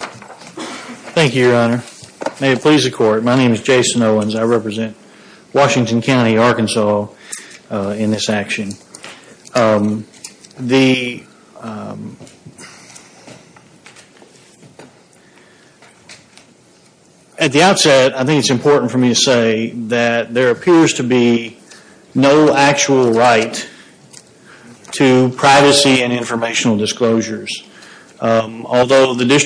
Thank you, Your Honor. May it please the Court, my name is Jason Owens. I represent Washington County, Arkansas in this action. At the outset, I think it's important for me to say that there appears to be no actual right to privacy and informational disclosures. Although the case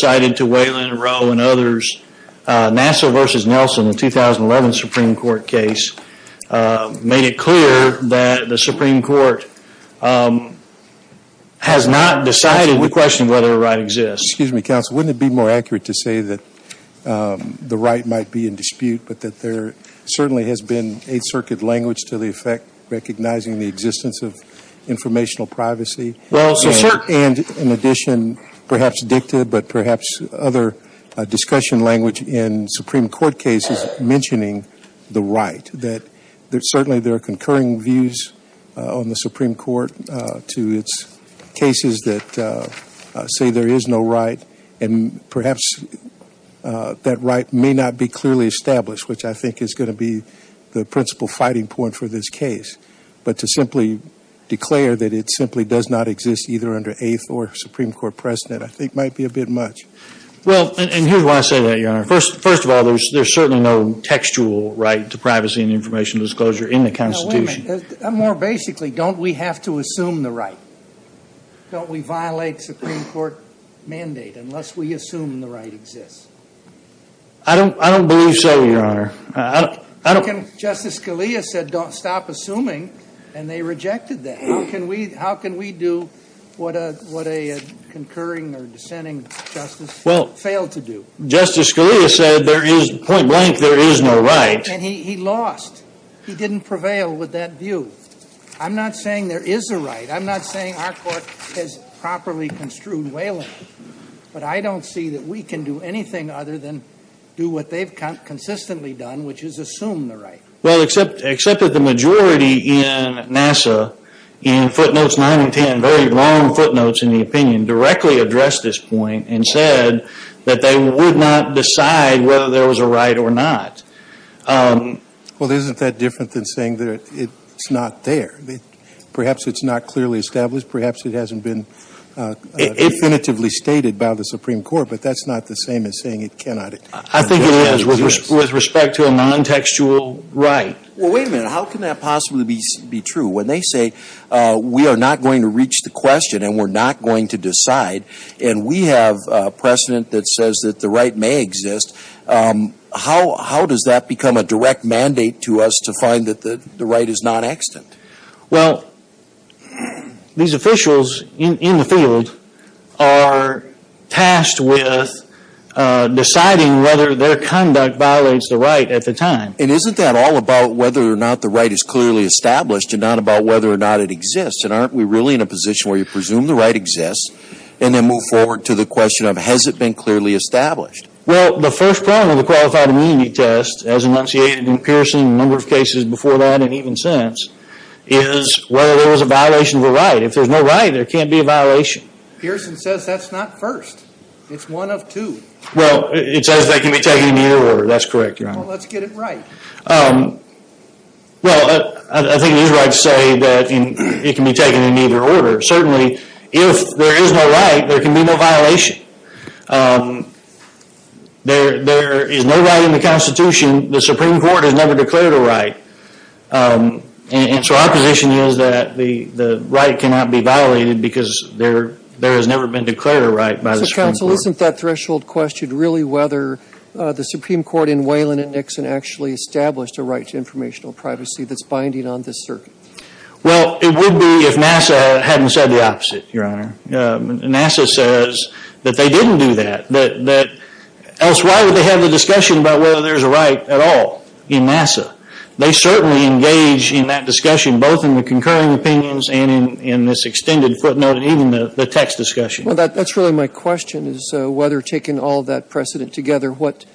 cited to Waylon, Rowe, and others, Nassau v. Nelson, the 2011 Supreme Court case, made it clear that the Supreme Court has not decided to question whether a right exists. Justice Breyer Excuse me, Counsel, wouldn't it be more accurate to say that the right might be in dispute, but that there certainly has been Eighth Circuit language to the effect recognizing the existence of informational privacy? And in addition, perhaps dicta, but perhaps other discussion language in Supreme Court cases mentioning the right, that certainly there are concurring views on the Supreme Court to its cases that say there is no right, and perhaps that right may not be clearly established, which I think is going to be the principal fighting point for this case. But to simply declare that it simply does not exist either under Eighth or Supreme Court precedent I think might be a bit much. Justice Breyer Well, and here's why I say that, Your Honor. First of all, there's certainly no textual right to privacy and informational disclosure in the Constitution. Justice Sotomayor Wait a minute. More basically, don't we have to assume the right? Don't we violate Supreme Court mandate unless we assume the right exists? Justice Breyer I don't believe so, Your Honor. Justice Scalia said don't stop assuming, and they rejected that. How can we do what a concurring or dissenting justice failed to do? Justice Scalia said there is, point blank, there is no right. And he lost. He didn't prevail with that view. I'm not saying there is a right. I'm not saying our Court has properly construed Whalen, but I don't see that we can do anything other than do what they've consistently done, which is assume the right. Justice Breyer Well, except that the majority in NASA, in footnotes 9 and 10, very long footnotes in the opinion, directly addressed this point and said that they would not decide whether there was a right or not. Justice Breyer Well, isn't that different than saying that it's not there? Perhaps it's not clearly established. Perhaps it hasn't been definitively stated by the Supreme Court, but that's not the same as saying it cannot exist. Justice Breyer I think it is with respect to a nontextual right. Breyer Well, wait a minute. How can that possibly be true? When they say we are not going to reach the question and we're not going to decide, and we have precedent that says that the right may exist, how does that become a direct mandate to us to find that the right is non-extant? Justice Breyer Well, these officials in the field are tasked with finding the right and they're tasked with deciding whether their conduct violates the right at the time. Justice Breyer And isn't that all about whether or not the right is clearly established and not about whether or not it exists? And aren't we really in a position where you presume the right exists and then move forward to the question of has it been clearly established? Justice Breyer Well, the first problem with the Qualified Immunity Test, as enunciated in Pearson and a number of cases before that and even since, is whether there was a violation of a right. If there's no right, there can't be a violation. Justice Sotomayor Pearson says that's not first. It's one of two. Justice Breyer Well, it says they can be taken in either order. That's correct, Your Honor. Justice Sotomayor Well, let's get it right. Justice Breyer Well, I think it is right to say that it can be taken in either order. Certainly, if there is no right, there can be no violation. There is no right in the Constitution. The Supreme Court has never declared a right. And so our position is that the right cannot be violated because there has never been declared a right by the Supreme Justice Breyer So, Counsel, isn't that threshold question really whether the Supreme Court in Wayland and Nixon actually established a right to informational privacy that's binding on this circuit? Justice Breyer Well, it would be if NASA hadn't said the opposite, Your Honor. NASA says that they didn't do that. Elsewhere, they have a discussion about whether there's a right at all in NASA. They certainly engage in that discussion both in the concurring opinions and in this extended footnote and even the text discussion. Justice Breyer Well, that's really my question is whether taking all that precedent together, what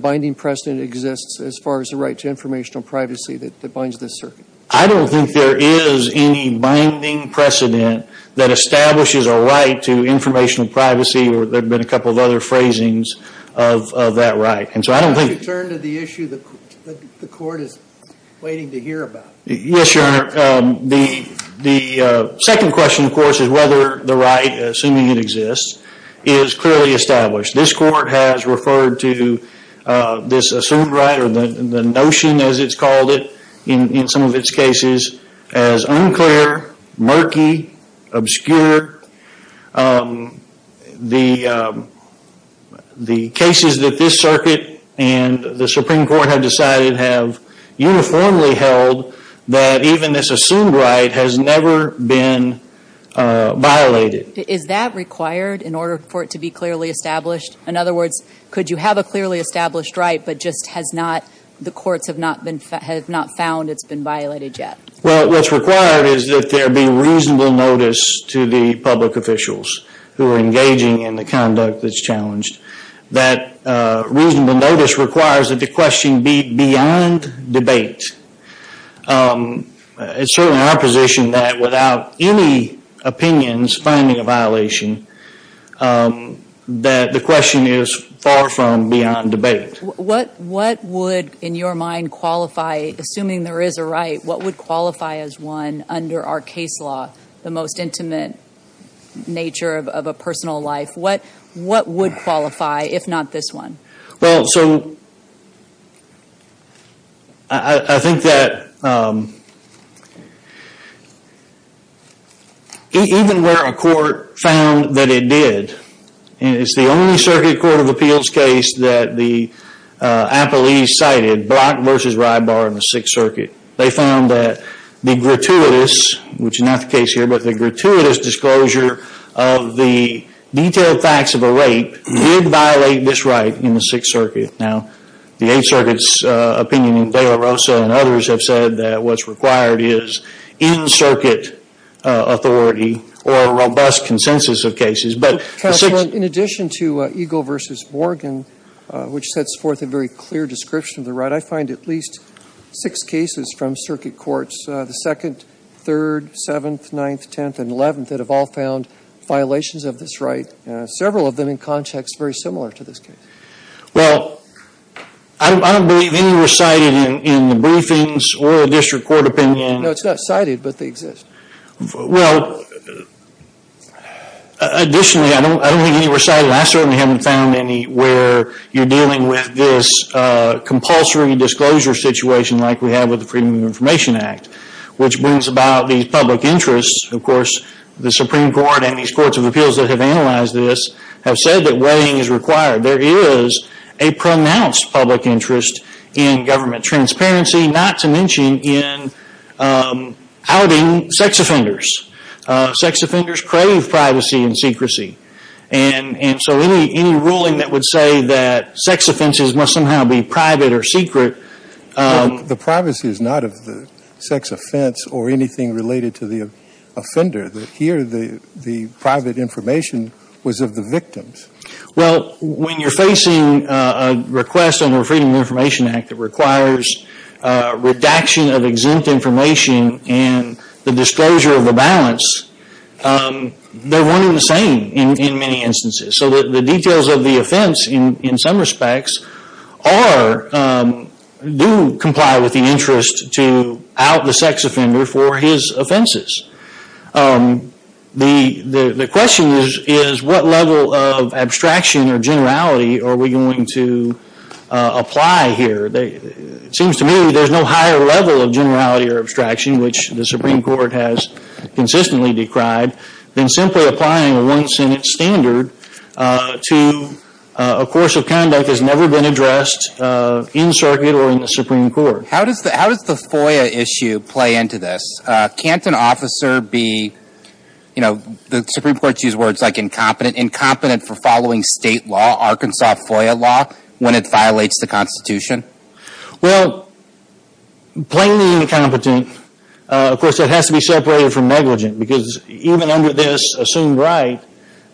binding precedent exists as far as the right to informational privacy that binds this circuit? Justice Breyer I don't think there is any binding precedent that establishes a right to informational privacy or there have been a couple of other phrasings of that right. And so I don't think... Justice Sotomayor Why don't you turn to the issue that the court is waiting to hear about? Justice Breyer Yes, Your Honor. The second question, of course, is whether the right, assuming it exists, is clearly established. This court has referred to this assumed right or the notion as it's called it in some of its cases as unclear, murky, obscure. The cases that this circuit and the Supreme Court have decided have uniformly held that even this assumed right has never been violated. Justice Kagan Is that required in order for it to be clearly established? In other words, could you have a clearly established right but just has not, the courts have not found it's been violated yet? Justice Breyer Well, what's required is that there be reasonable notice to the public officials who are engaging in the conduct that's challenged. That reasonable notice requires that the question be beyond debate. It's certainly our position that without any opinions finding a violation, that the question is far from beyond debate. Justice Kagan What would, in your mind, qualify, assuming there is a right, what would the ultimate nature of a personal life, what would qualify if not this one? Justice Breyer Well, so, I think that even where a court found that it did, and it's the only circuit court of appeals case that the appellees cited, Block v. Rybar in the previous disclosure of the detailed facts of a rape did violate this right in the Sixth Circuit. Now, the Eighth Circuit's opinion and De La Rosa and others have said that what's required is in-circuit authority or a robust consensus of cases. But the Sixth Justice Sotomayor Counsel, in addition to Eagle v. Morgan, which sets forth a very clear description of the right, I find at least six cases from circuit courts, the most important, that have all found violations of this right, several of them in context very similar to this case. Justice Breyer Well, I don't believe any were cited in the briefings or a district court opinion. Justice Sotomayor No, it's not cited, but they exist. Justice Breyer Well, additionally, I don't think any were cited. I certainly haven't found any where you're dealing with this compulsory disclosure situation like we have with the Freedom of Information Act, which brings about these public interests. Of course, the Supreme Court and these courts of appeals that have analyzed this have said that weighing is required. There is a pronounced public interest in government transparency, not to mention in outing sex offenders. Sex offenders crave privacy and secrecy. And so any ruling that would say that sex offenses must somehow be private or secret Justice Breyer The privacy is not of the sex offense or anything related to the offender. Here, the private information was of the victims. Justice Breyer Well, when you're facing a request under the Freedom of Information Act that requires redaction of exempt information and the disclosure of the balance, they're one and the same in many instances. So the details of the offense in some respects do comply with the interest to out the sex offender for his offenses. The question is, what level of abstraction or generality are we going to apply here? It seems to me there's no higher level of generality or abstraction, which the to a course of conduct that has never been addressed in circuit or in the Supreme Court. Justice Breyer How does the FOIA issue play into this? Can't an officer be, you know, the Supreme Court used words like incompetent, incompetent for following state law, Arkansas FOIA law, when it violates the Constitution? Justice Breyer Well, plainly incompetent. Of course, that has to be separated from negligent because even under this assumed right,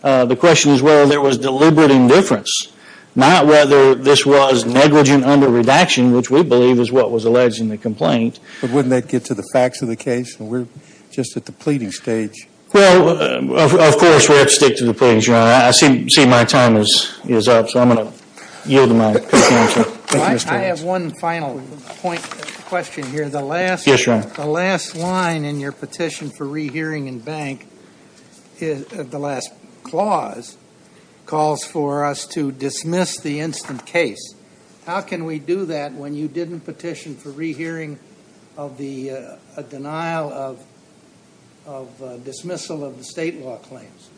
the question is whether there was deliberate indifference. Not whether this was negligent under redaction, which we believe is what was alleged in the complaint. Justice Breyer But wouldn't that get to the facts of the case? We're just at the pleading stage. Justice Breyer Well, of course, we have to stick to the pleading stage, Your Honor. I see my time is up, so I'm going to yield my contention. Justice Sotomayor I have one final point, question here. Justice Breyer Yes, Your Honor. Justice Sotomayor The last line in your petition for rehearing in bank, the last clause, calls for us to dismiss the instant case. How can we do that when you didn't petition for rehearing of the denial of dismissal of the state law claims?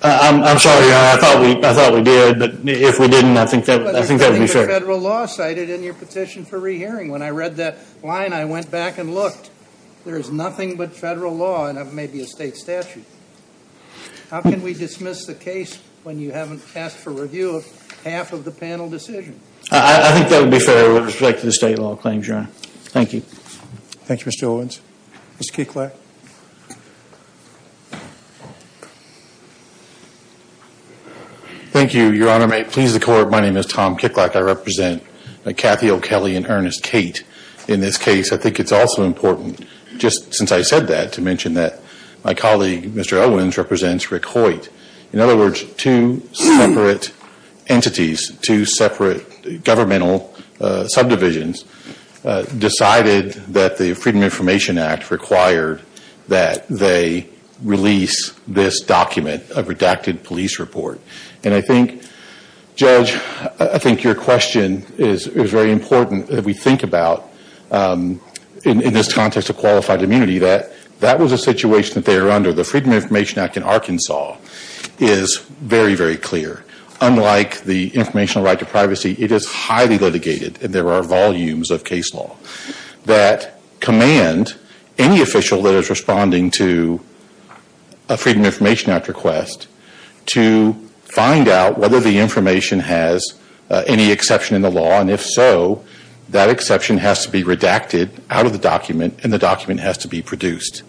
Justice Breyer I'm sorry, Your Honor. I thought we did, but if we didn't, I think that would be fair. Justice Sotomayor There is nothing but federal law cited in your petition for rehearing. When I read that line, I went back and looked. There is nothing but federal law, and it may be a state statute. How can we dismiss the case when you haven't asked for review of half of the panel decision? Justice Breyer I think that would be fair with respect to the state law claims, Your Honor. Thank you. Roberts Thank you, Mr. Owens. Mr. Kicklack. Mr. Kicklack Thank you, Your Honor. May it please the Court, my name is Tom Kicklack. I represent Cathy O'Kelley and Ernest Cate in this case. I think it's also important, just since I said that, to mention that my colleague, Mr. Owens, represents Rick Hoyt. In other words, two separate entities, two separate governmental colleague, Mr. Owens, represents Rick Hoyt. I think it's important that they release this document, a redacted police report. And I think, Judge, I think your question is very important that we think about, in this context of qualified immunity, that that was a situation that they were under. The Freedom of Information Act in Arkansas is very, very clear. Unlike the informational right to privacy, it is highly litigated, and there are volumes of case law that command any official that is responding to a Freedom of Information Act request to find out whether the information has any exception in the law, and if so, that exception has to be redacted out of the document, and the document has to be produced.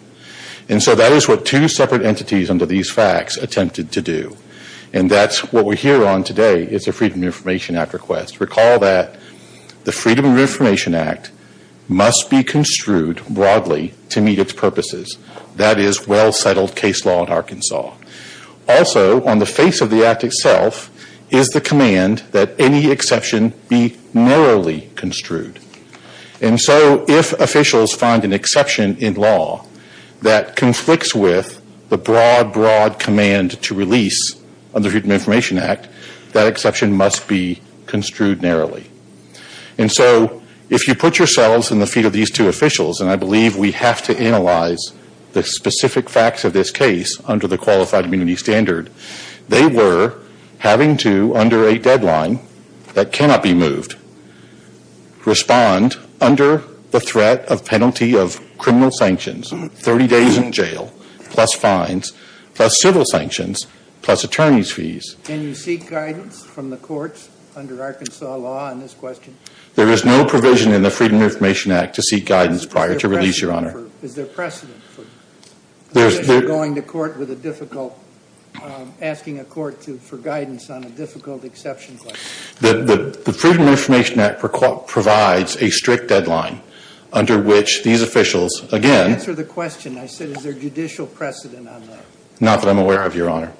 And so that is what two separate entities under these facts attempted to do. And that's what we're here on today, is a Freedom of Information Act request. Recall that the Freedom of Information Act must be construed broadly to meet its purposes. That is well-settled case law in Arkansas. Also, on the face of the act itself, is the command that any exception be narrowly construed. And so if officials find an exception in law that conflicts with the broad, broad command to release under the Freedom of Information Act, that exception must be construed narrowly. And so if you put yourselves in the feet of these two officials, and I have to analyze the specific facts of this case under the Qualified Immunity Standard, they were having to, under a deadline that cannot be moved, respond under the threat of penalty of criminal sanctions, 30 days in jail, plus fines, plus civil sanctions, plus attorney's fees. Can you seek guidance from the courts under Arkansas law on this question? There is no provision in the Freedom of Information Act to seek guidance prior to release, Your Honor. Is there precedent for going to court with a difficult, asking a court for guidance on a difficult exception question? The Freedom of Information Act provides a strict deadline under which these officials, again... Answer the question. I said is there judicial precedent on that? Not that I'm aware of, Your Honor.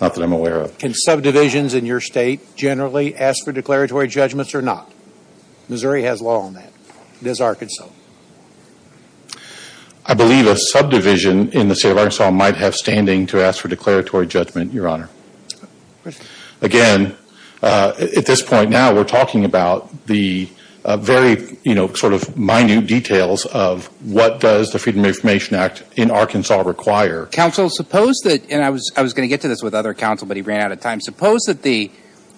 Not that I'm aware of. Can subdivisions in your state generally ask for declaratory judgments or not? Missouri has law on that. It is Arkansas. I believe a subdivision in the state of Arkansas might have standing to ask for declaratory judgment, Your Honor. Again, at this point now, we're talking about the very, you know, sort of minute details of what does the Freedom of Information Act in Arkansas require. Counsel, suppose that, and I was going to get to this with other counsel, but he ran out of time, suppose that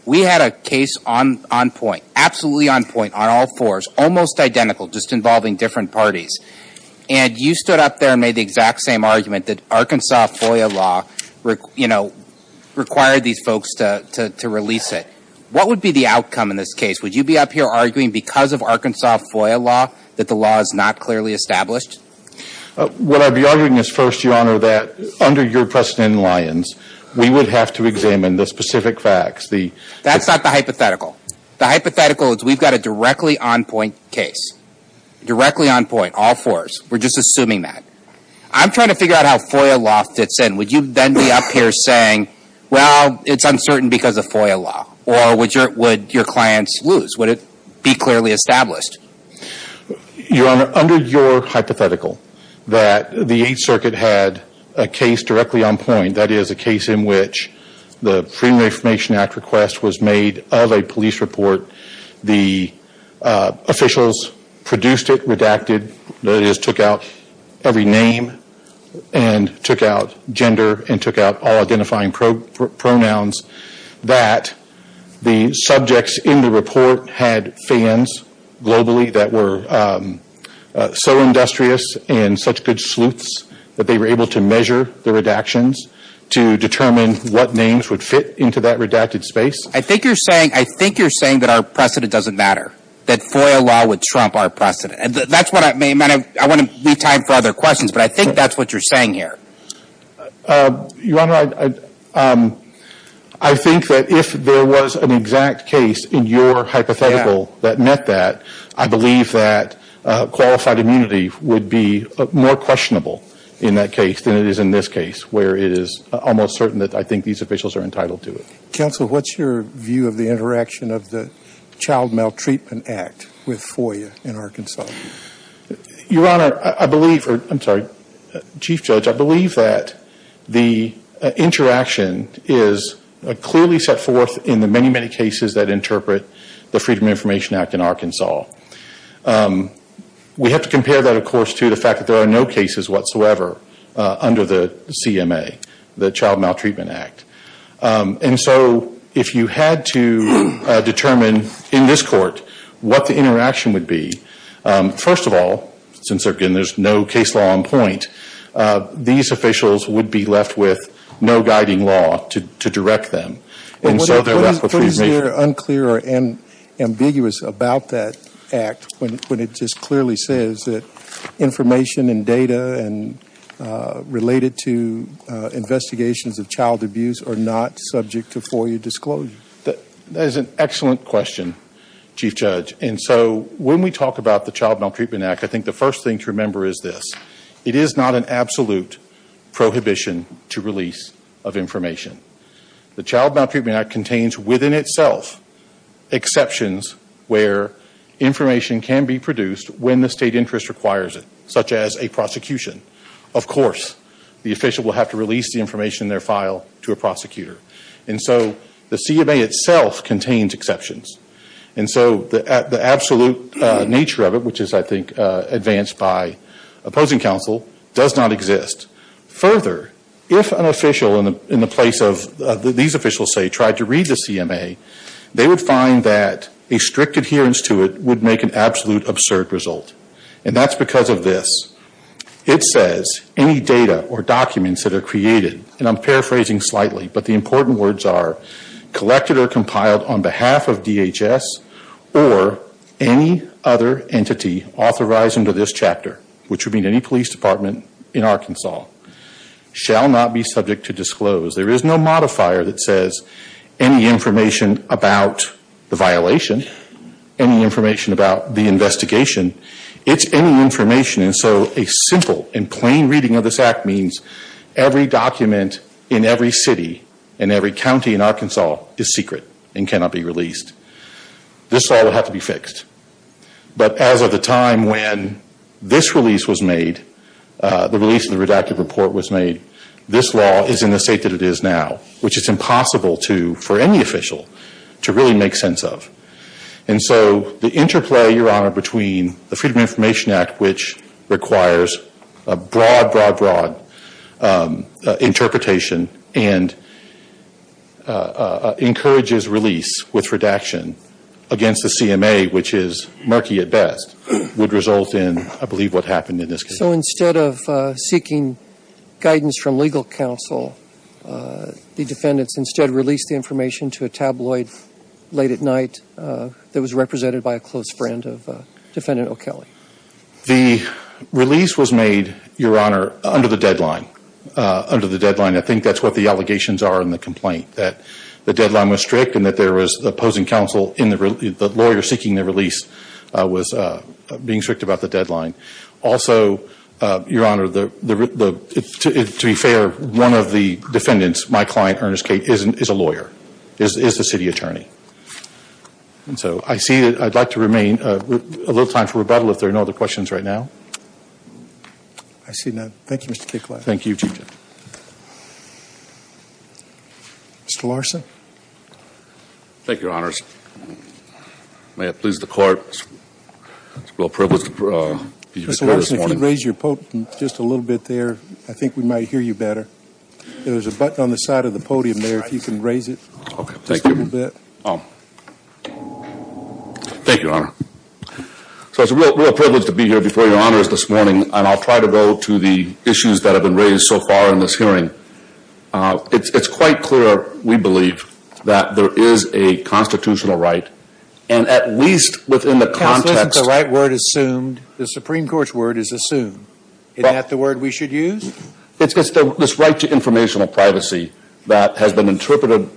we had a case on point, absolutely on point, on all fours, almost identical, just involving different parties. And you stood up there and made the exact same argument that Arkansas FOIA law required these folks to release it. What would be the outcome in this case? Would you be up here arguing because of Arkansas FOIA law that the law is not clearly established? What I'd be arguing is first, Your Honor, that under your precedent, Lyons, we would have to examine the specific facts. That's not the hypothetical. The hypothetical is we've got a directly on point case. Directly on point, all fours. We're just assuming that. I'm trying to figure out how FOIA law fits in. Would you then be up here saying, well, it's uncertain because of FOIA law? Or would your clients lose? Would it be clearly established? Your Honor, under your hypothetical, that the Eighth Circuit had a case directly on point, that is a case in which the Freedom of Information Act request was made of a police report. The officials produced it, redacted. That is, took out every name and took out gender and took out all identifying pronouns. That the subjects in the report had fans globally that were so industrious and such good sleuths that they were able to measure the redactions to determine what names would fit into that redacted space? I think you're saying that our precedent doesn't matter. That FOIA law would trump our precedent. I want to leave time for other questions, but I think that's what you're saying here. Your Honor, I think that if there was an exact case in your hypothetical that met that, I believe that qualified immunity would be more questionable in that case than it is in this case where it is almost certain that I think these officials are entitled to it. Counsel, what's your view of the interaction of the Child Maltreatment Act with FOIA in Arkansas? Your Honor, I believe, I'm sorry, Chief Judge, I believe that the interaction is clearly set forth in the many, many cases that interpret the Freedom of Information Act in Arkansas. We have to compare that, of course, to the fact that there are no cases whatsoever under the CMA, the Child Maltreatment Act. And so if you had to determine in this court what the interaction would be, first of all, since again there's no case law on point, these officials would be left with no guiding law to direct them. What is unclear or ambiguous about that act when it just clearly says that information and data and related to investigations of child abuse are not subject to FOIA disclosure? That is an excellent question, Chief Judge. And so when we talk about the Child Maltreatment Act, I think the first thing to remember is this. It is not an absolute prohibition to release of information. The Child Maltreatment Act contains within itself exceptions where information can be produced when the state interest requires it, such as a prosecution. Of course, the official will have to release the information in their file to a prosecutor. And so the CMA itself contains exceptions. And so the absolute nature of it, which is, I think, advanced by opposing counsel, does not exist. Further, if an official in the place of these officials, say, tried to read the CMA, they would find that a strict adherence to it would make an absolute absurd result. And that's because of this. It says, any data or documents that are created, and I'm paraphrasing slightly, but the important words are, collected or compiled on behalf of DHS or any other entity authorized under this chapter, which would be the law, shall not be subject to disclose. There is no modifier that says any information about the violation, any information about the investigation. It's any information. And so a simple and plain reading of this act means every document in every city and every county in Arkansas is secret and cannot be released. This all would have to be fixed. But as of the time when this release was made, the release of the redacted report was made, this law is in the state that it is now, which is impossible to, for any official, to really make sense of. And so the interplay, Your Honor, between the Freedom of Information Act, which requires a broad, broad, broad interpretation and encourages release with redaction against the CMA, which is murky at best, would result in, I believe, what happened in this case. So instead of seeking guidance from legal counsel, the defendants instead released the information to a tabloid late at night that was represented by a close friend of Defendant O'Kelly. The release was made, Your Honor, under the deadline. Under the deadline. I think that's what the allegations are in the complaint, that the lawyer seeking the release was being strict about the deadline. Also, Your Honor, to be fair, one of the defendants, my client, Ernest Cate, is a lawyer, is a city attorney. And so I'd like to remain a little time for rebuttal if there are no other questions right now. I see none. Thank you, Mr. Cate. Thank you, Chief Justice. Mr. Larson? Thank you, Your Honors. May it please the Court, it's a real privilege to be here this morning. Mr. Larson, if you could raise your podium just a little bit there, I think we might hear you better. There's a button on the side of the podium there if you can raise it. Okay, thank you. Just a little bit. Thank you, Your Honor. So it's a real privilege to be here before Your Honors this morning and I'll try to go to the issues that have been raised so far in this hearing. It's quite clear, we believe, that there is a constitutional right and at least within the context... Counsel, isn't the right word assumed? The Supreme Court's word is assumed. Isn't that the word we should use? It's this right to informational privacy that has been interpreted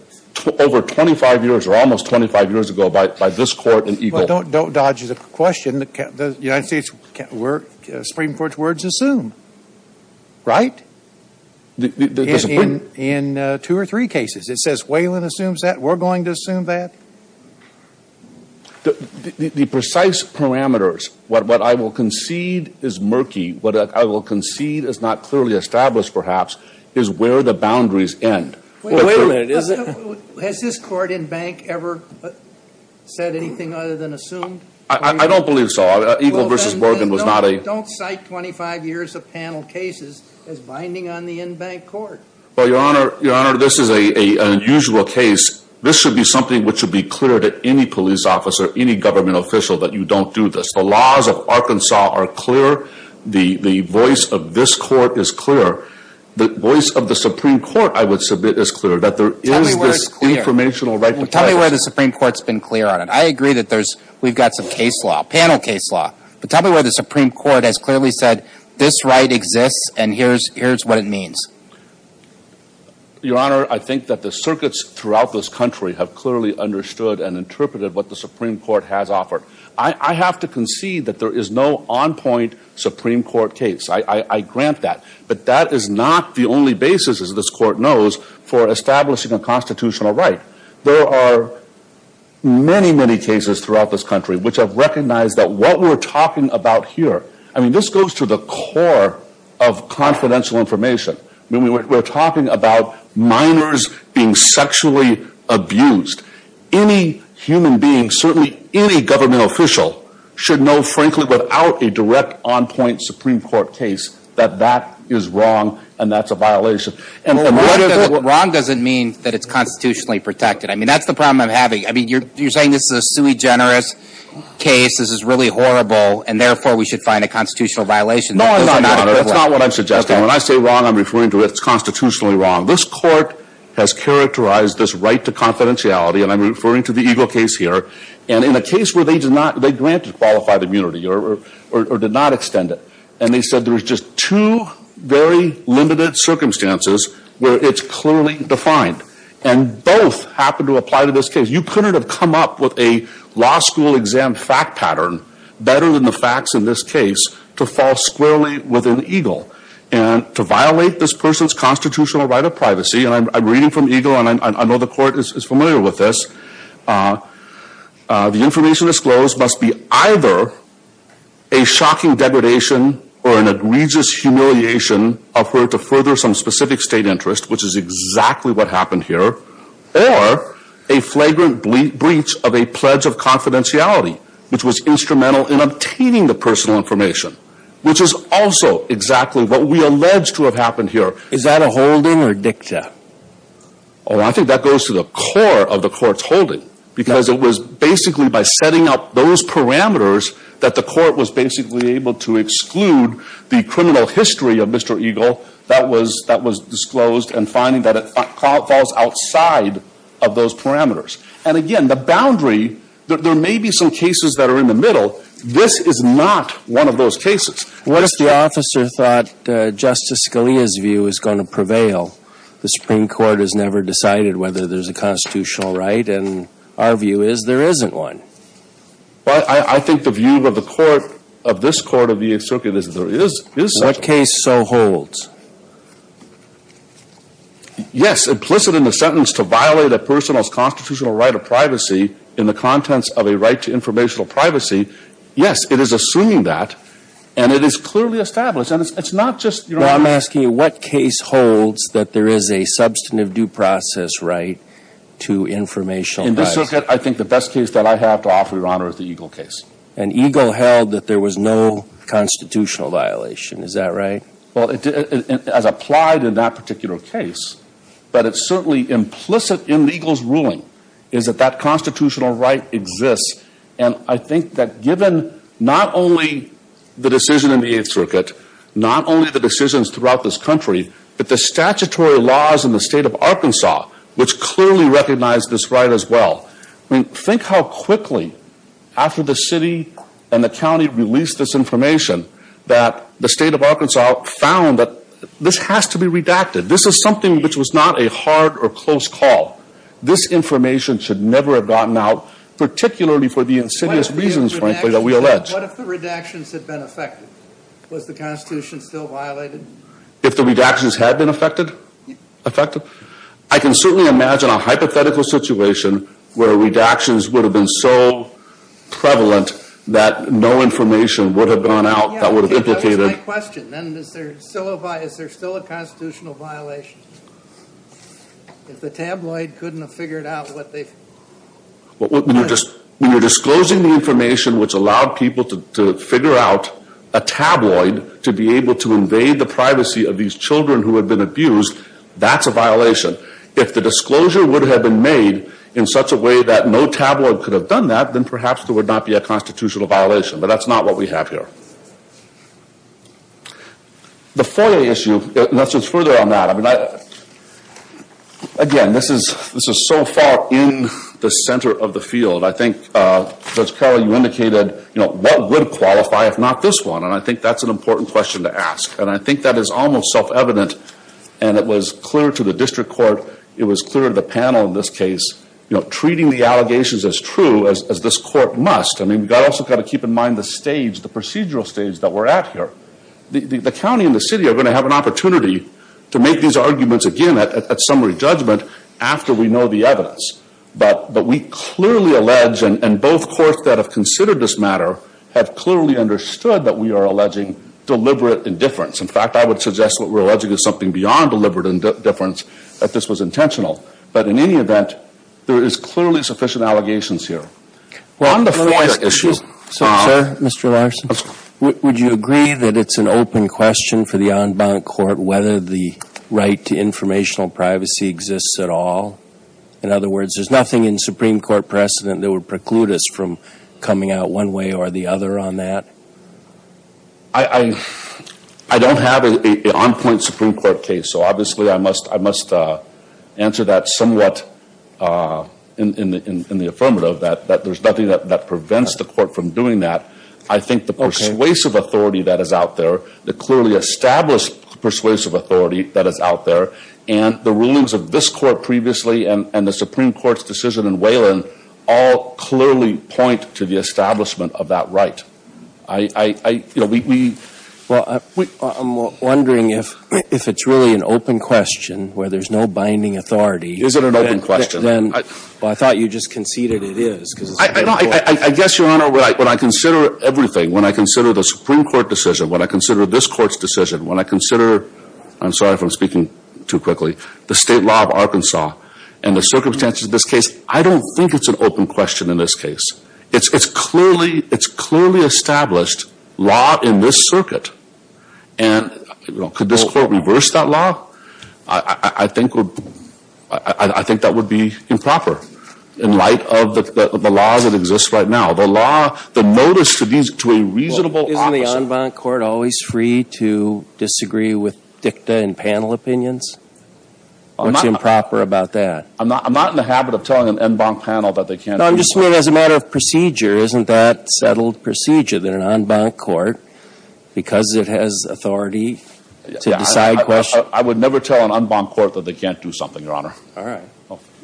over 25 years or almost 25 years ago by this Court in Eagle. Well, don't dodge the question. The United States Supreme Court's word is assumed, right? In two or three cases. It says Whalen assumes that. We're going to assume that. The precise parameters, what I will concede is murky, what I will concede is not clearly established perhaps, is where the boundaries end. Wait a minute. Has this Court in Bank ever said anything other than assumed? I don't believe so. Eagle v. Morgan was not a... ...binding on the in-bank court. Well, Your Honor, this is an unusual case. This should be something which should be clear to any police officer, any government official, that you don't do this. The laws of Arkansas are clear. The voice of this Court is clear. The voice of the Supreme Court, I would submit, is clear. That there is this informational right... Tell me where it's clear. Tell me where the Supreme Court's been clear on it. I agree that we've got some case law, panel case law. But tell me where the Supreme Court has clearly said, this right exists and here's what it means. Your Honor, I think that the circuits throughout this country have clearly understood and interpreted what the Supreme Court has offered. I have to concede that there is no on-point Supreme Court case. I grant that. But that is not the only basis, as this Court knows, for establishing a constitutional right. There are many, many cases throughout this country which have recognized that what we're talking about here... I mean, this goes to the core of confidential information. We're talking about minors being sexually abused. Any human being, certainly any government official, should know, frankly, without a direct on-point Supreme Court case, that that is wrong and that's a violation. Wrong doesn't mean that it's constitutionally protected. I mean, that's the problem I'm having. You're saying this is a sui generis case. This is really horrible. And therefore, we should find a constitutional violation. No, I'm not. That's not what I'm suggesting. When I say wrong, I'm referring to it's constitutionally wrong. This Court has characterized this right to confidentiality and I'm referring to the Eagle case here. And in a case where they did not, they granted qualified immunity or did not extend it. And they said there was just two very limited circumstances where it's clearly defined. And both happen to apply to this case. You couldn't have come up with a law school exam fact pattern better than the facts in this case to fall squarely within Eagle. And to violate this person's constitutional right of privacy, and I'm reading from Eagle and I know the Court is familiar with this, the information disclosed must be either a shocking degradation or an egregious humiliation of her to further some specific state interest, which is exactly what happened here, or a flagrant breach of a pledge of confidentiality, which was instrumental in obtaining the personal information, which is also exactly what we allege to have happened here. Is that a holding or a dicta? Oh, I think that goes to the core of the Court's holding. Because it was basically by setting up those parameters that the Court was basically able to exclude the criminal history of Mr. Eagle that was disclosed and finding that it falls outside of those parameters. And again, the boundary, there may be some cases that are in the middle. This is not one of those cases. What if the officer thought Justice Scalia's view is going to prevail? The Supreme Court has never decided whether there's a constitutional right and our view is there isn't one. Well, I think the view of the Court, of this Court of the Circuit, is there is such a right. What case so holds? Yes, implicit in the sentence, to violate a person's constitutional right of privacy in the contents of a right to informational privacy. Yes, it is assuming that. And it is clearly established. And it's not just, you know... Well, I'm asking you, what case holds that there is a substantive due process right to informational privacy? In this circuit, I think the best case that I have to offer Your Honor is the Eagle case. And Eagle held that there was no constitutional violation. Is that right? Well, as applied in that particular case. But it's certainly implicit in Eagle's ruling is that that constitutional right exists. And I think that given not only the decision in the Eighth Circuit, not only the decisions throughout this country, but the statutory laws in the state of Arkansas, which clearly recognize this right as well. I mean, think how quickly, after the city and the county released this information, that the state of Arkansas found that this has to be redacted. This is something which was not a hard or close call. This information should never have gotten out, particularly for the insidious reasons, frankly, that we allege. What if the redactions had been affected? Was the Constitution still violated? If the redactions had been affected? Affected? I can certainly imagine a hypothetical situation where redactions would have been so prevalent that no information would have gone out that would have implicated... That was my question. Is there still a constitutional violation? If the tabloid couldn't have figured out what they... When you're disclosing the information which allowed people to figure out a tabloid to be able to invade the privacy of these children who had been abused, that's a violation. If the disclosure would have been made in such a way that no tabloid could have done that, then perhaps there would not be a constitutional violation. But that's not what we have here. The FOIA issue... Let's just further on that. Again, this is so far in the center of the field. I think, Judge Carroll, you indicated what would qualify if not this one? And I think that's an important question to ask. And I think that is almost self-evident. And it was clear to the district court. It was clear to the panel in this case. You know, treating the allegations as true as this court must. I mean, we've also got to keep in mind the stage, the procedural stage that we're at here. The county and the city are going to have an opportunity to make these arguments again at summary judgment after we know the evidence. But we clearly allege, and both courts that have considered this matter have clearly understood that we are alleging deliberate indifference. In fact, I would suggest what we're alleging is something beyond deliberate indifference that this was intentional. But in any event, there is clearly sufficient allegations here. On the FOIA issue... Sir, Mr. Larson, would you agree that it's an open question for the en banc court whether the right to informational privacy exists at all? In other words, there's nothing in Supreme Court precedent that would preclude us from coming out one way or the other on that? I don't have an on-point Supreme Court case. So obviously I must answer that somewhat in the affirmative that there's nothing that prevents the court from doing that. I think the persuasive authority that is out there, the clearly established persuasive authority that is out there, and the rulings of this court previously and the Supreme Court's decision in Wayland all clearly point to the establishment of that right. I... Well, I'm wondering if it's really an open question where there's no binding authority... Is it an open question? I thought you just conceded it is. I guess, Your Honor, when I consider everything, when I consider the Supreme Court decision, when I consider this court's decision, when I consider, I'm sorry if I'm speaking too quickly, the state law of Arkansas and the circumstances of this case, I don't think it's an open question in this case. It's clearly established law in this circuit. Could this court reverse that law? I think that would be improper in light of the laws that exist right now. The notice to a reasonable officer... Isn't the en banc court always free to disagree with What's improper about that? I'm not in the habit of telling an en banc panel that they can't... As a matter of procedure, isn't that settled procedure that an en banc court because it has authority to decide questions... I would never tell an en banc court that they can't do something, Your Honor. All right.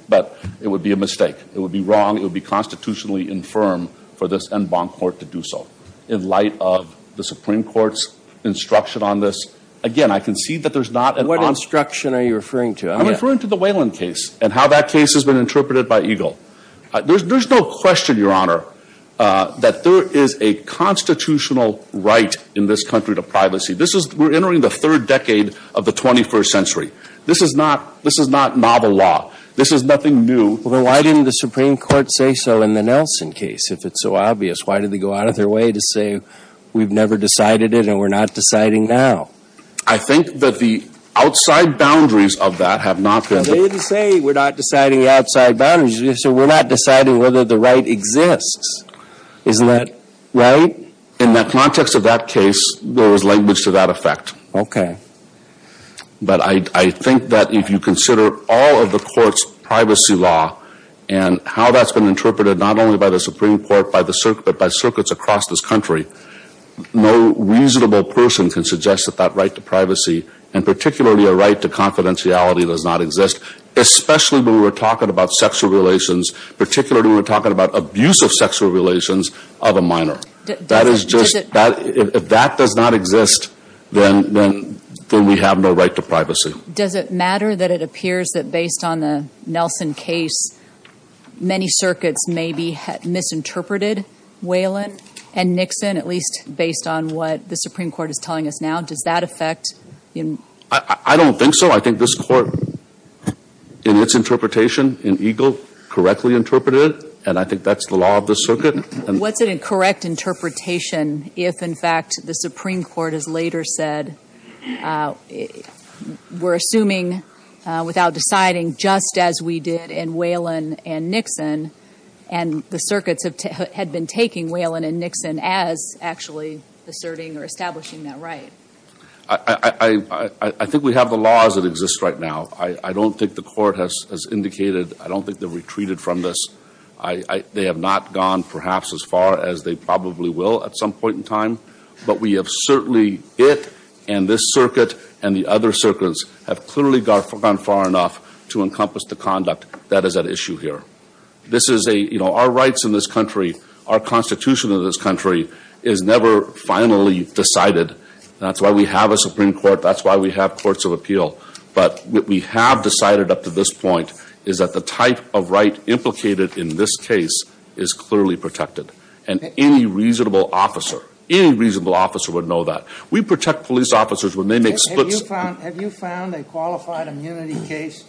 But it would be a mistake. It would be wrong. It would be constitutionally infirm for this en banc court to do so in light of the Supreme Court's instruction on this. Again, I concede that there's not... What instruction are you referring to? I'm referring to the Whelan case and how that case has been interpreted by Eagle. There's no question, Your Honor, that there is a constitutional right in this country to privacy. We're entering the third decade of the 21st century. This is not novel law. This is nothing new. Well, then why didn't the Supreme Court say so in the Nelson case, if it's so obvious? Why did they go out of their way to say we've never decided it and we're not deciding now? I think that the They didn't say we're not deciding outside boundaries. They said we're not deciding whether the right exists. Isn't that right? In the context of that case, there was language to that effect. But I think that if you consider all of the court's privacy law and how that's been interpreted, not only by the Supreme Court, but by circuits across this country, no reasonable person can suggest that that right to privacy, and particularly a right to confidentiality, does not exist. Especially when we're talking about sexual relations, particularly when we're talking about abuse of sexual relations of a minor. If that does not exist, then we have no right to privacy. Does it matter that it appears that based on the Nelson case, many circuits maybe misinterpreted Whelan and Nixon, at least based on what the Supreme Court is telling us now? Does that affect? I don't think so. I think this court in its interpretation in EGLE correctly interpreted it and I think that's the law of the circuit. What's a correct interpretation if in fact the Supreme Court has later said we're assuming without deciding just as we did in Whelan and Nixon, and the circuits had been taking Whelan and Nixon as actually asserting or establishing that right? I think we have the laws that exist right now. I don't think the court has indicated I don't think they've retreated from this. They have not gone perhaps as far as they probably will at some point in time, but we have certainly it and this circuit and the other circuits have clearly gone far enough to encompass the conduct that is at issue here. This is a, you know, our rights in this country, our constitution of this country is never finally decided. That's why we have a Supreme Court. That's why we have courts of appeal. But what we have decided up to this point is that the type of right implicated in this case is clearly protected and any reasonable officer any reasonable officer would know that. We protect police officers when they make splits. Have you found a qualified immunity case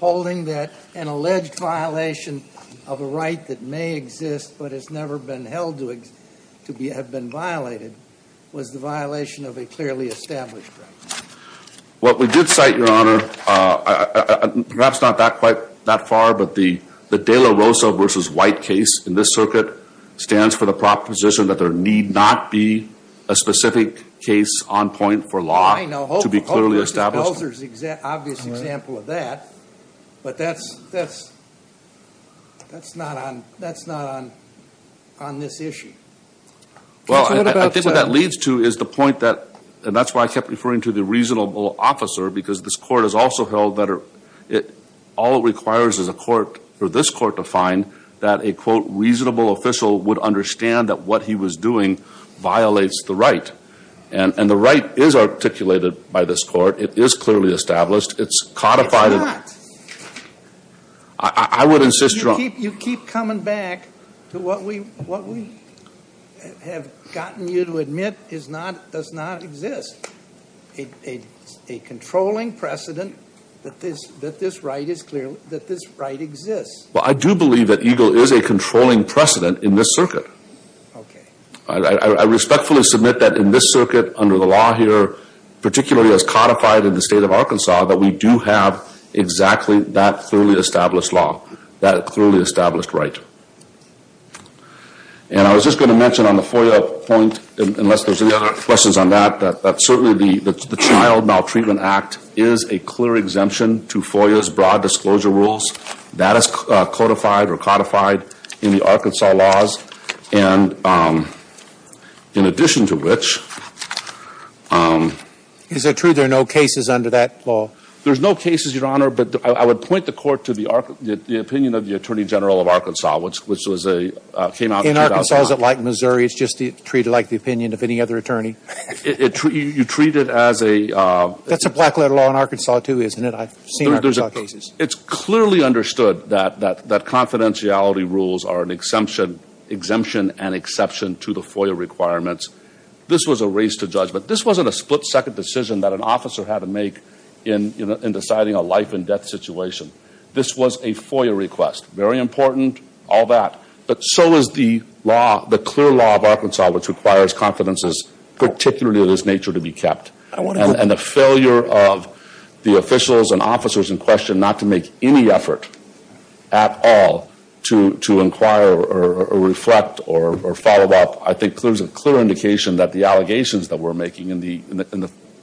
holding that an alleged violation of a right that may exist but has never been held to have been violated was the violation of a clearly established right? What we did cite, Your Honor perhaps not that far, but the De La Rosa v. White case in this circuit stands for the proposition that there need not be a specific case on point for law to be clearly established. Obvious example of that but that's that's not on this issue. Well, I think what that leads to is the point that, and that's why I kept referring to the reasonable officer because this court has also held that all it requires is a court for this court to find that a reasonable official would understand that what he was doing violates the right. And the right is articulated by this court. It is clearly established. It's codified It's not. I would insist, Your Honor. You keep coming back to what we have gotten you to admit does not exist. A controlling precedent that this right is clear that this right exists. Well, I do believe that EGLE is a controlling precedent in this circuit. I respectfully submit that in this circuit under the law here particularly as codified in the Arkansas law, there exists exactly that clearly established law that clearly established right. And I was just going to mention on the FOIA point unless there's any other questions on that that certainly the Child Maltreatment Act is a clear exemption to FOIA's broad disclosure rules that is codified or codified in the Arkansas laws and in addition to which Is it true there are no cases under that law? There's no cases, Your Honor, but I would point the court to the opinion of the Attorney General of Arkansas which was came out in 2005. In Arkansas is it like Missouri? It's just treated like the opinion of any other attorney? You treat it as a... That's a black letter law in Arkansas too, isn't it? I've seen Arkansas cases. It's clearly understood that confidentiality rules are an exemption and exception to the FOIA requirements. This was a race to judge, but this wasn't a split second decision that an officer had to make in deciding a life and death situation. This was a FOIA request. Very important. All that. But so is the law, the clear law of Arkansas which requires confidences particularly of this nature to be kept. And the failure of the officials and officers in question not to make any effort at all to inquire or reflect or follow up. I think there's a clear indication that the allegations that we're making in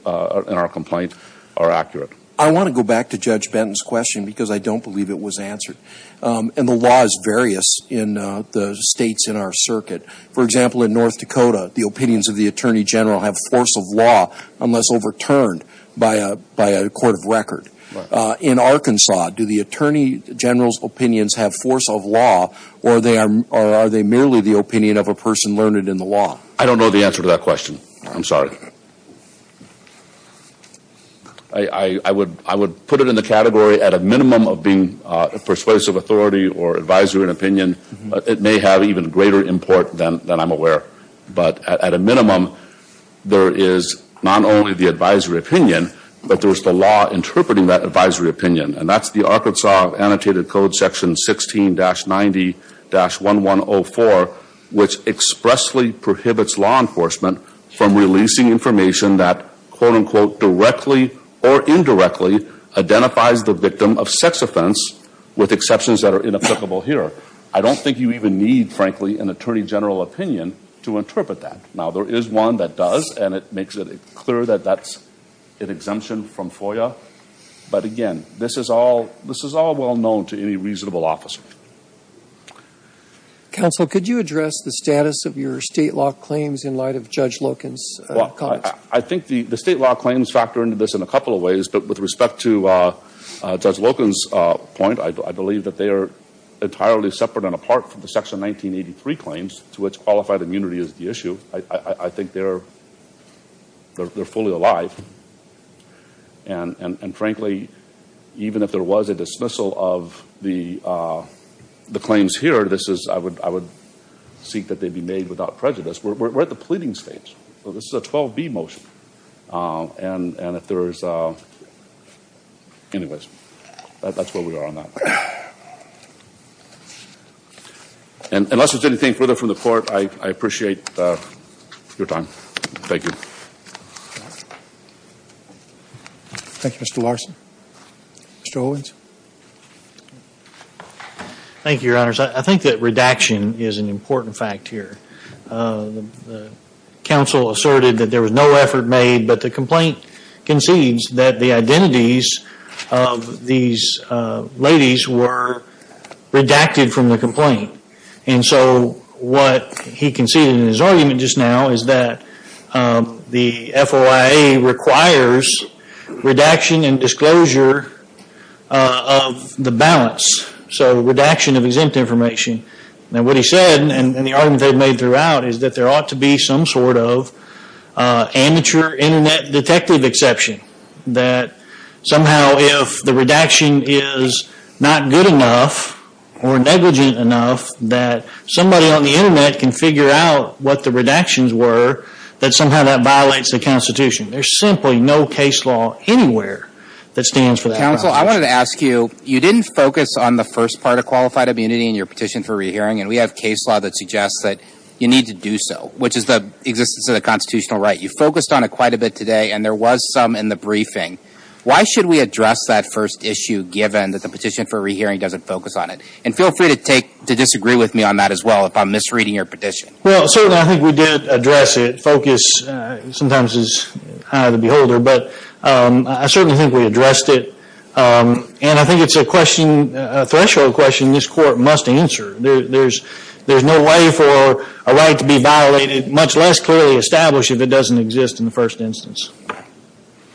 our complaint are accurate. I want to go back to Judge Benton's question because I don't believe it was answered. And the law is various in the states in our circuit. For example in North Dakota, the opinions of the Attorney General have force of law unless overturned by a court of record. In Arkansas, do the Attorney General's opinions have force of law or are they merely the opinion of a person learned in the law? I don't know the answer to that question. I'm sorry. I would put it in the category at a minimum of being persuasive authority or advisory opinion. It may have even greater import than I'm aware. But at a minimum there is not only the advisory opinion but there's the law interpreting that advisory opinion. And that's the Arkansas Annotated Code Section 16-90-1104 which expressly prohibits law enforcement from releasing information that directly or indirectly identifies the victim of sex offense with exceptions that are inapplicable here. I don't think you even need frankly an Attorney General opinion to interpret that. Now there is one that does and it makes it clear that that's an exemption from FOIA. But again this is all well known to any reasonable officer. Counsel, could you address the status of your state law claims in light of Judge Loken's comments? I think the state law claims factor into this in a couple of ways. But with respect to Judge Loken's point, I believe that they are entirely separate and apart from the Section 1983 claims to which qualified immunity is the issue. I think they're fully alive. And frankly even if there was a dismissal of the claims here, I would seek that they be made without prejudice. We're at the pleading stage. This is a 12B motion. And if there's anyways that's where we are on that. Unless there's anything further from the court I appreciate your time. Thank you. Thank you Mr. Larson. Mr. Owens. Thank you, your honors. I think that redaction is an important fact here. Counsel asserted that there was no effort made but the complaint concedes that the identities of these ladies were redacted from the complaint. And so what he conceded in his argument just now is that the FOIA requires redaction and disclosure of the balance. So redaction of exempt information. Now what he said and the argument they've made throughout is that there ought to be some sort of amateur internet detective exception. That somehow if the redaction is not good enough or negligent enough that somebody on the internet can figure out what the redactions were that somehow that violates the constitution. There's simply no case law anywhere that stands for that. Counsel I wanted to ask you, you didn't focus on the first part of qualified immunity in your petition for re-hearing and we have case law that suggests that you need to do so. Which is the existence of the constitutional right. You focused on it quite a bit today and there was some in the briefing. Why should we address that first issue given that the petition for re-hearing doesn't focus on it? And feel free to disagree with me on that as well if I'm misreading your petition. Well certainly I think we did address it. Focus sometimes is high to the beholder but I certainly think we addressed it. And I think it's a question, a threshold question this court must answer. There's no way for a right to be violated much less clearly established if it doesn't exist in the first instance.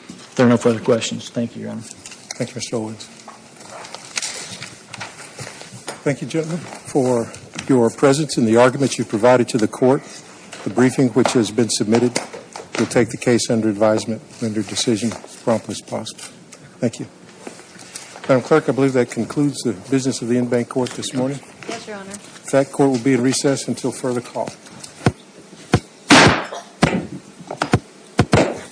If there are no further questions, thank you your honor. Thank you Mr. Owens. Thank you gentlemen for your presence and the argument you provided to the court. The briefing which has been submitted will take the case under advisement under decision as prompt as possible. Thank you. I believe that concludes the business of the Inbank Court this morning. Yes your honor. That court will be in recess until further call.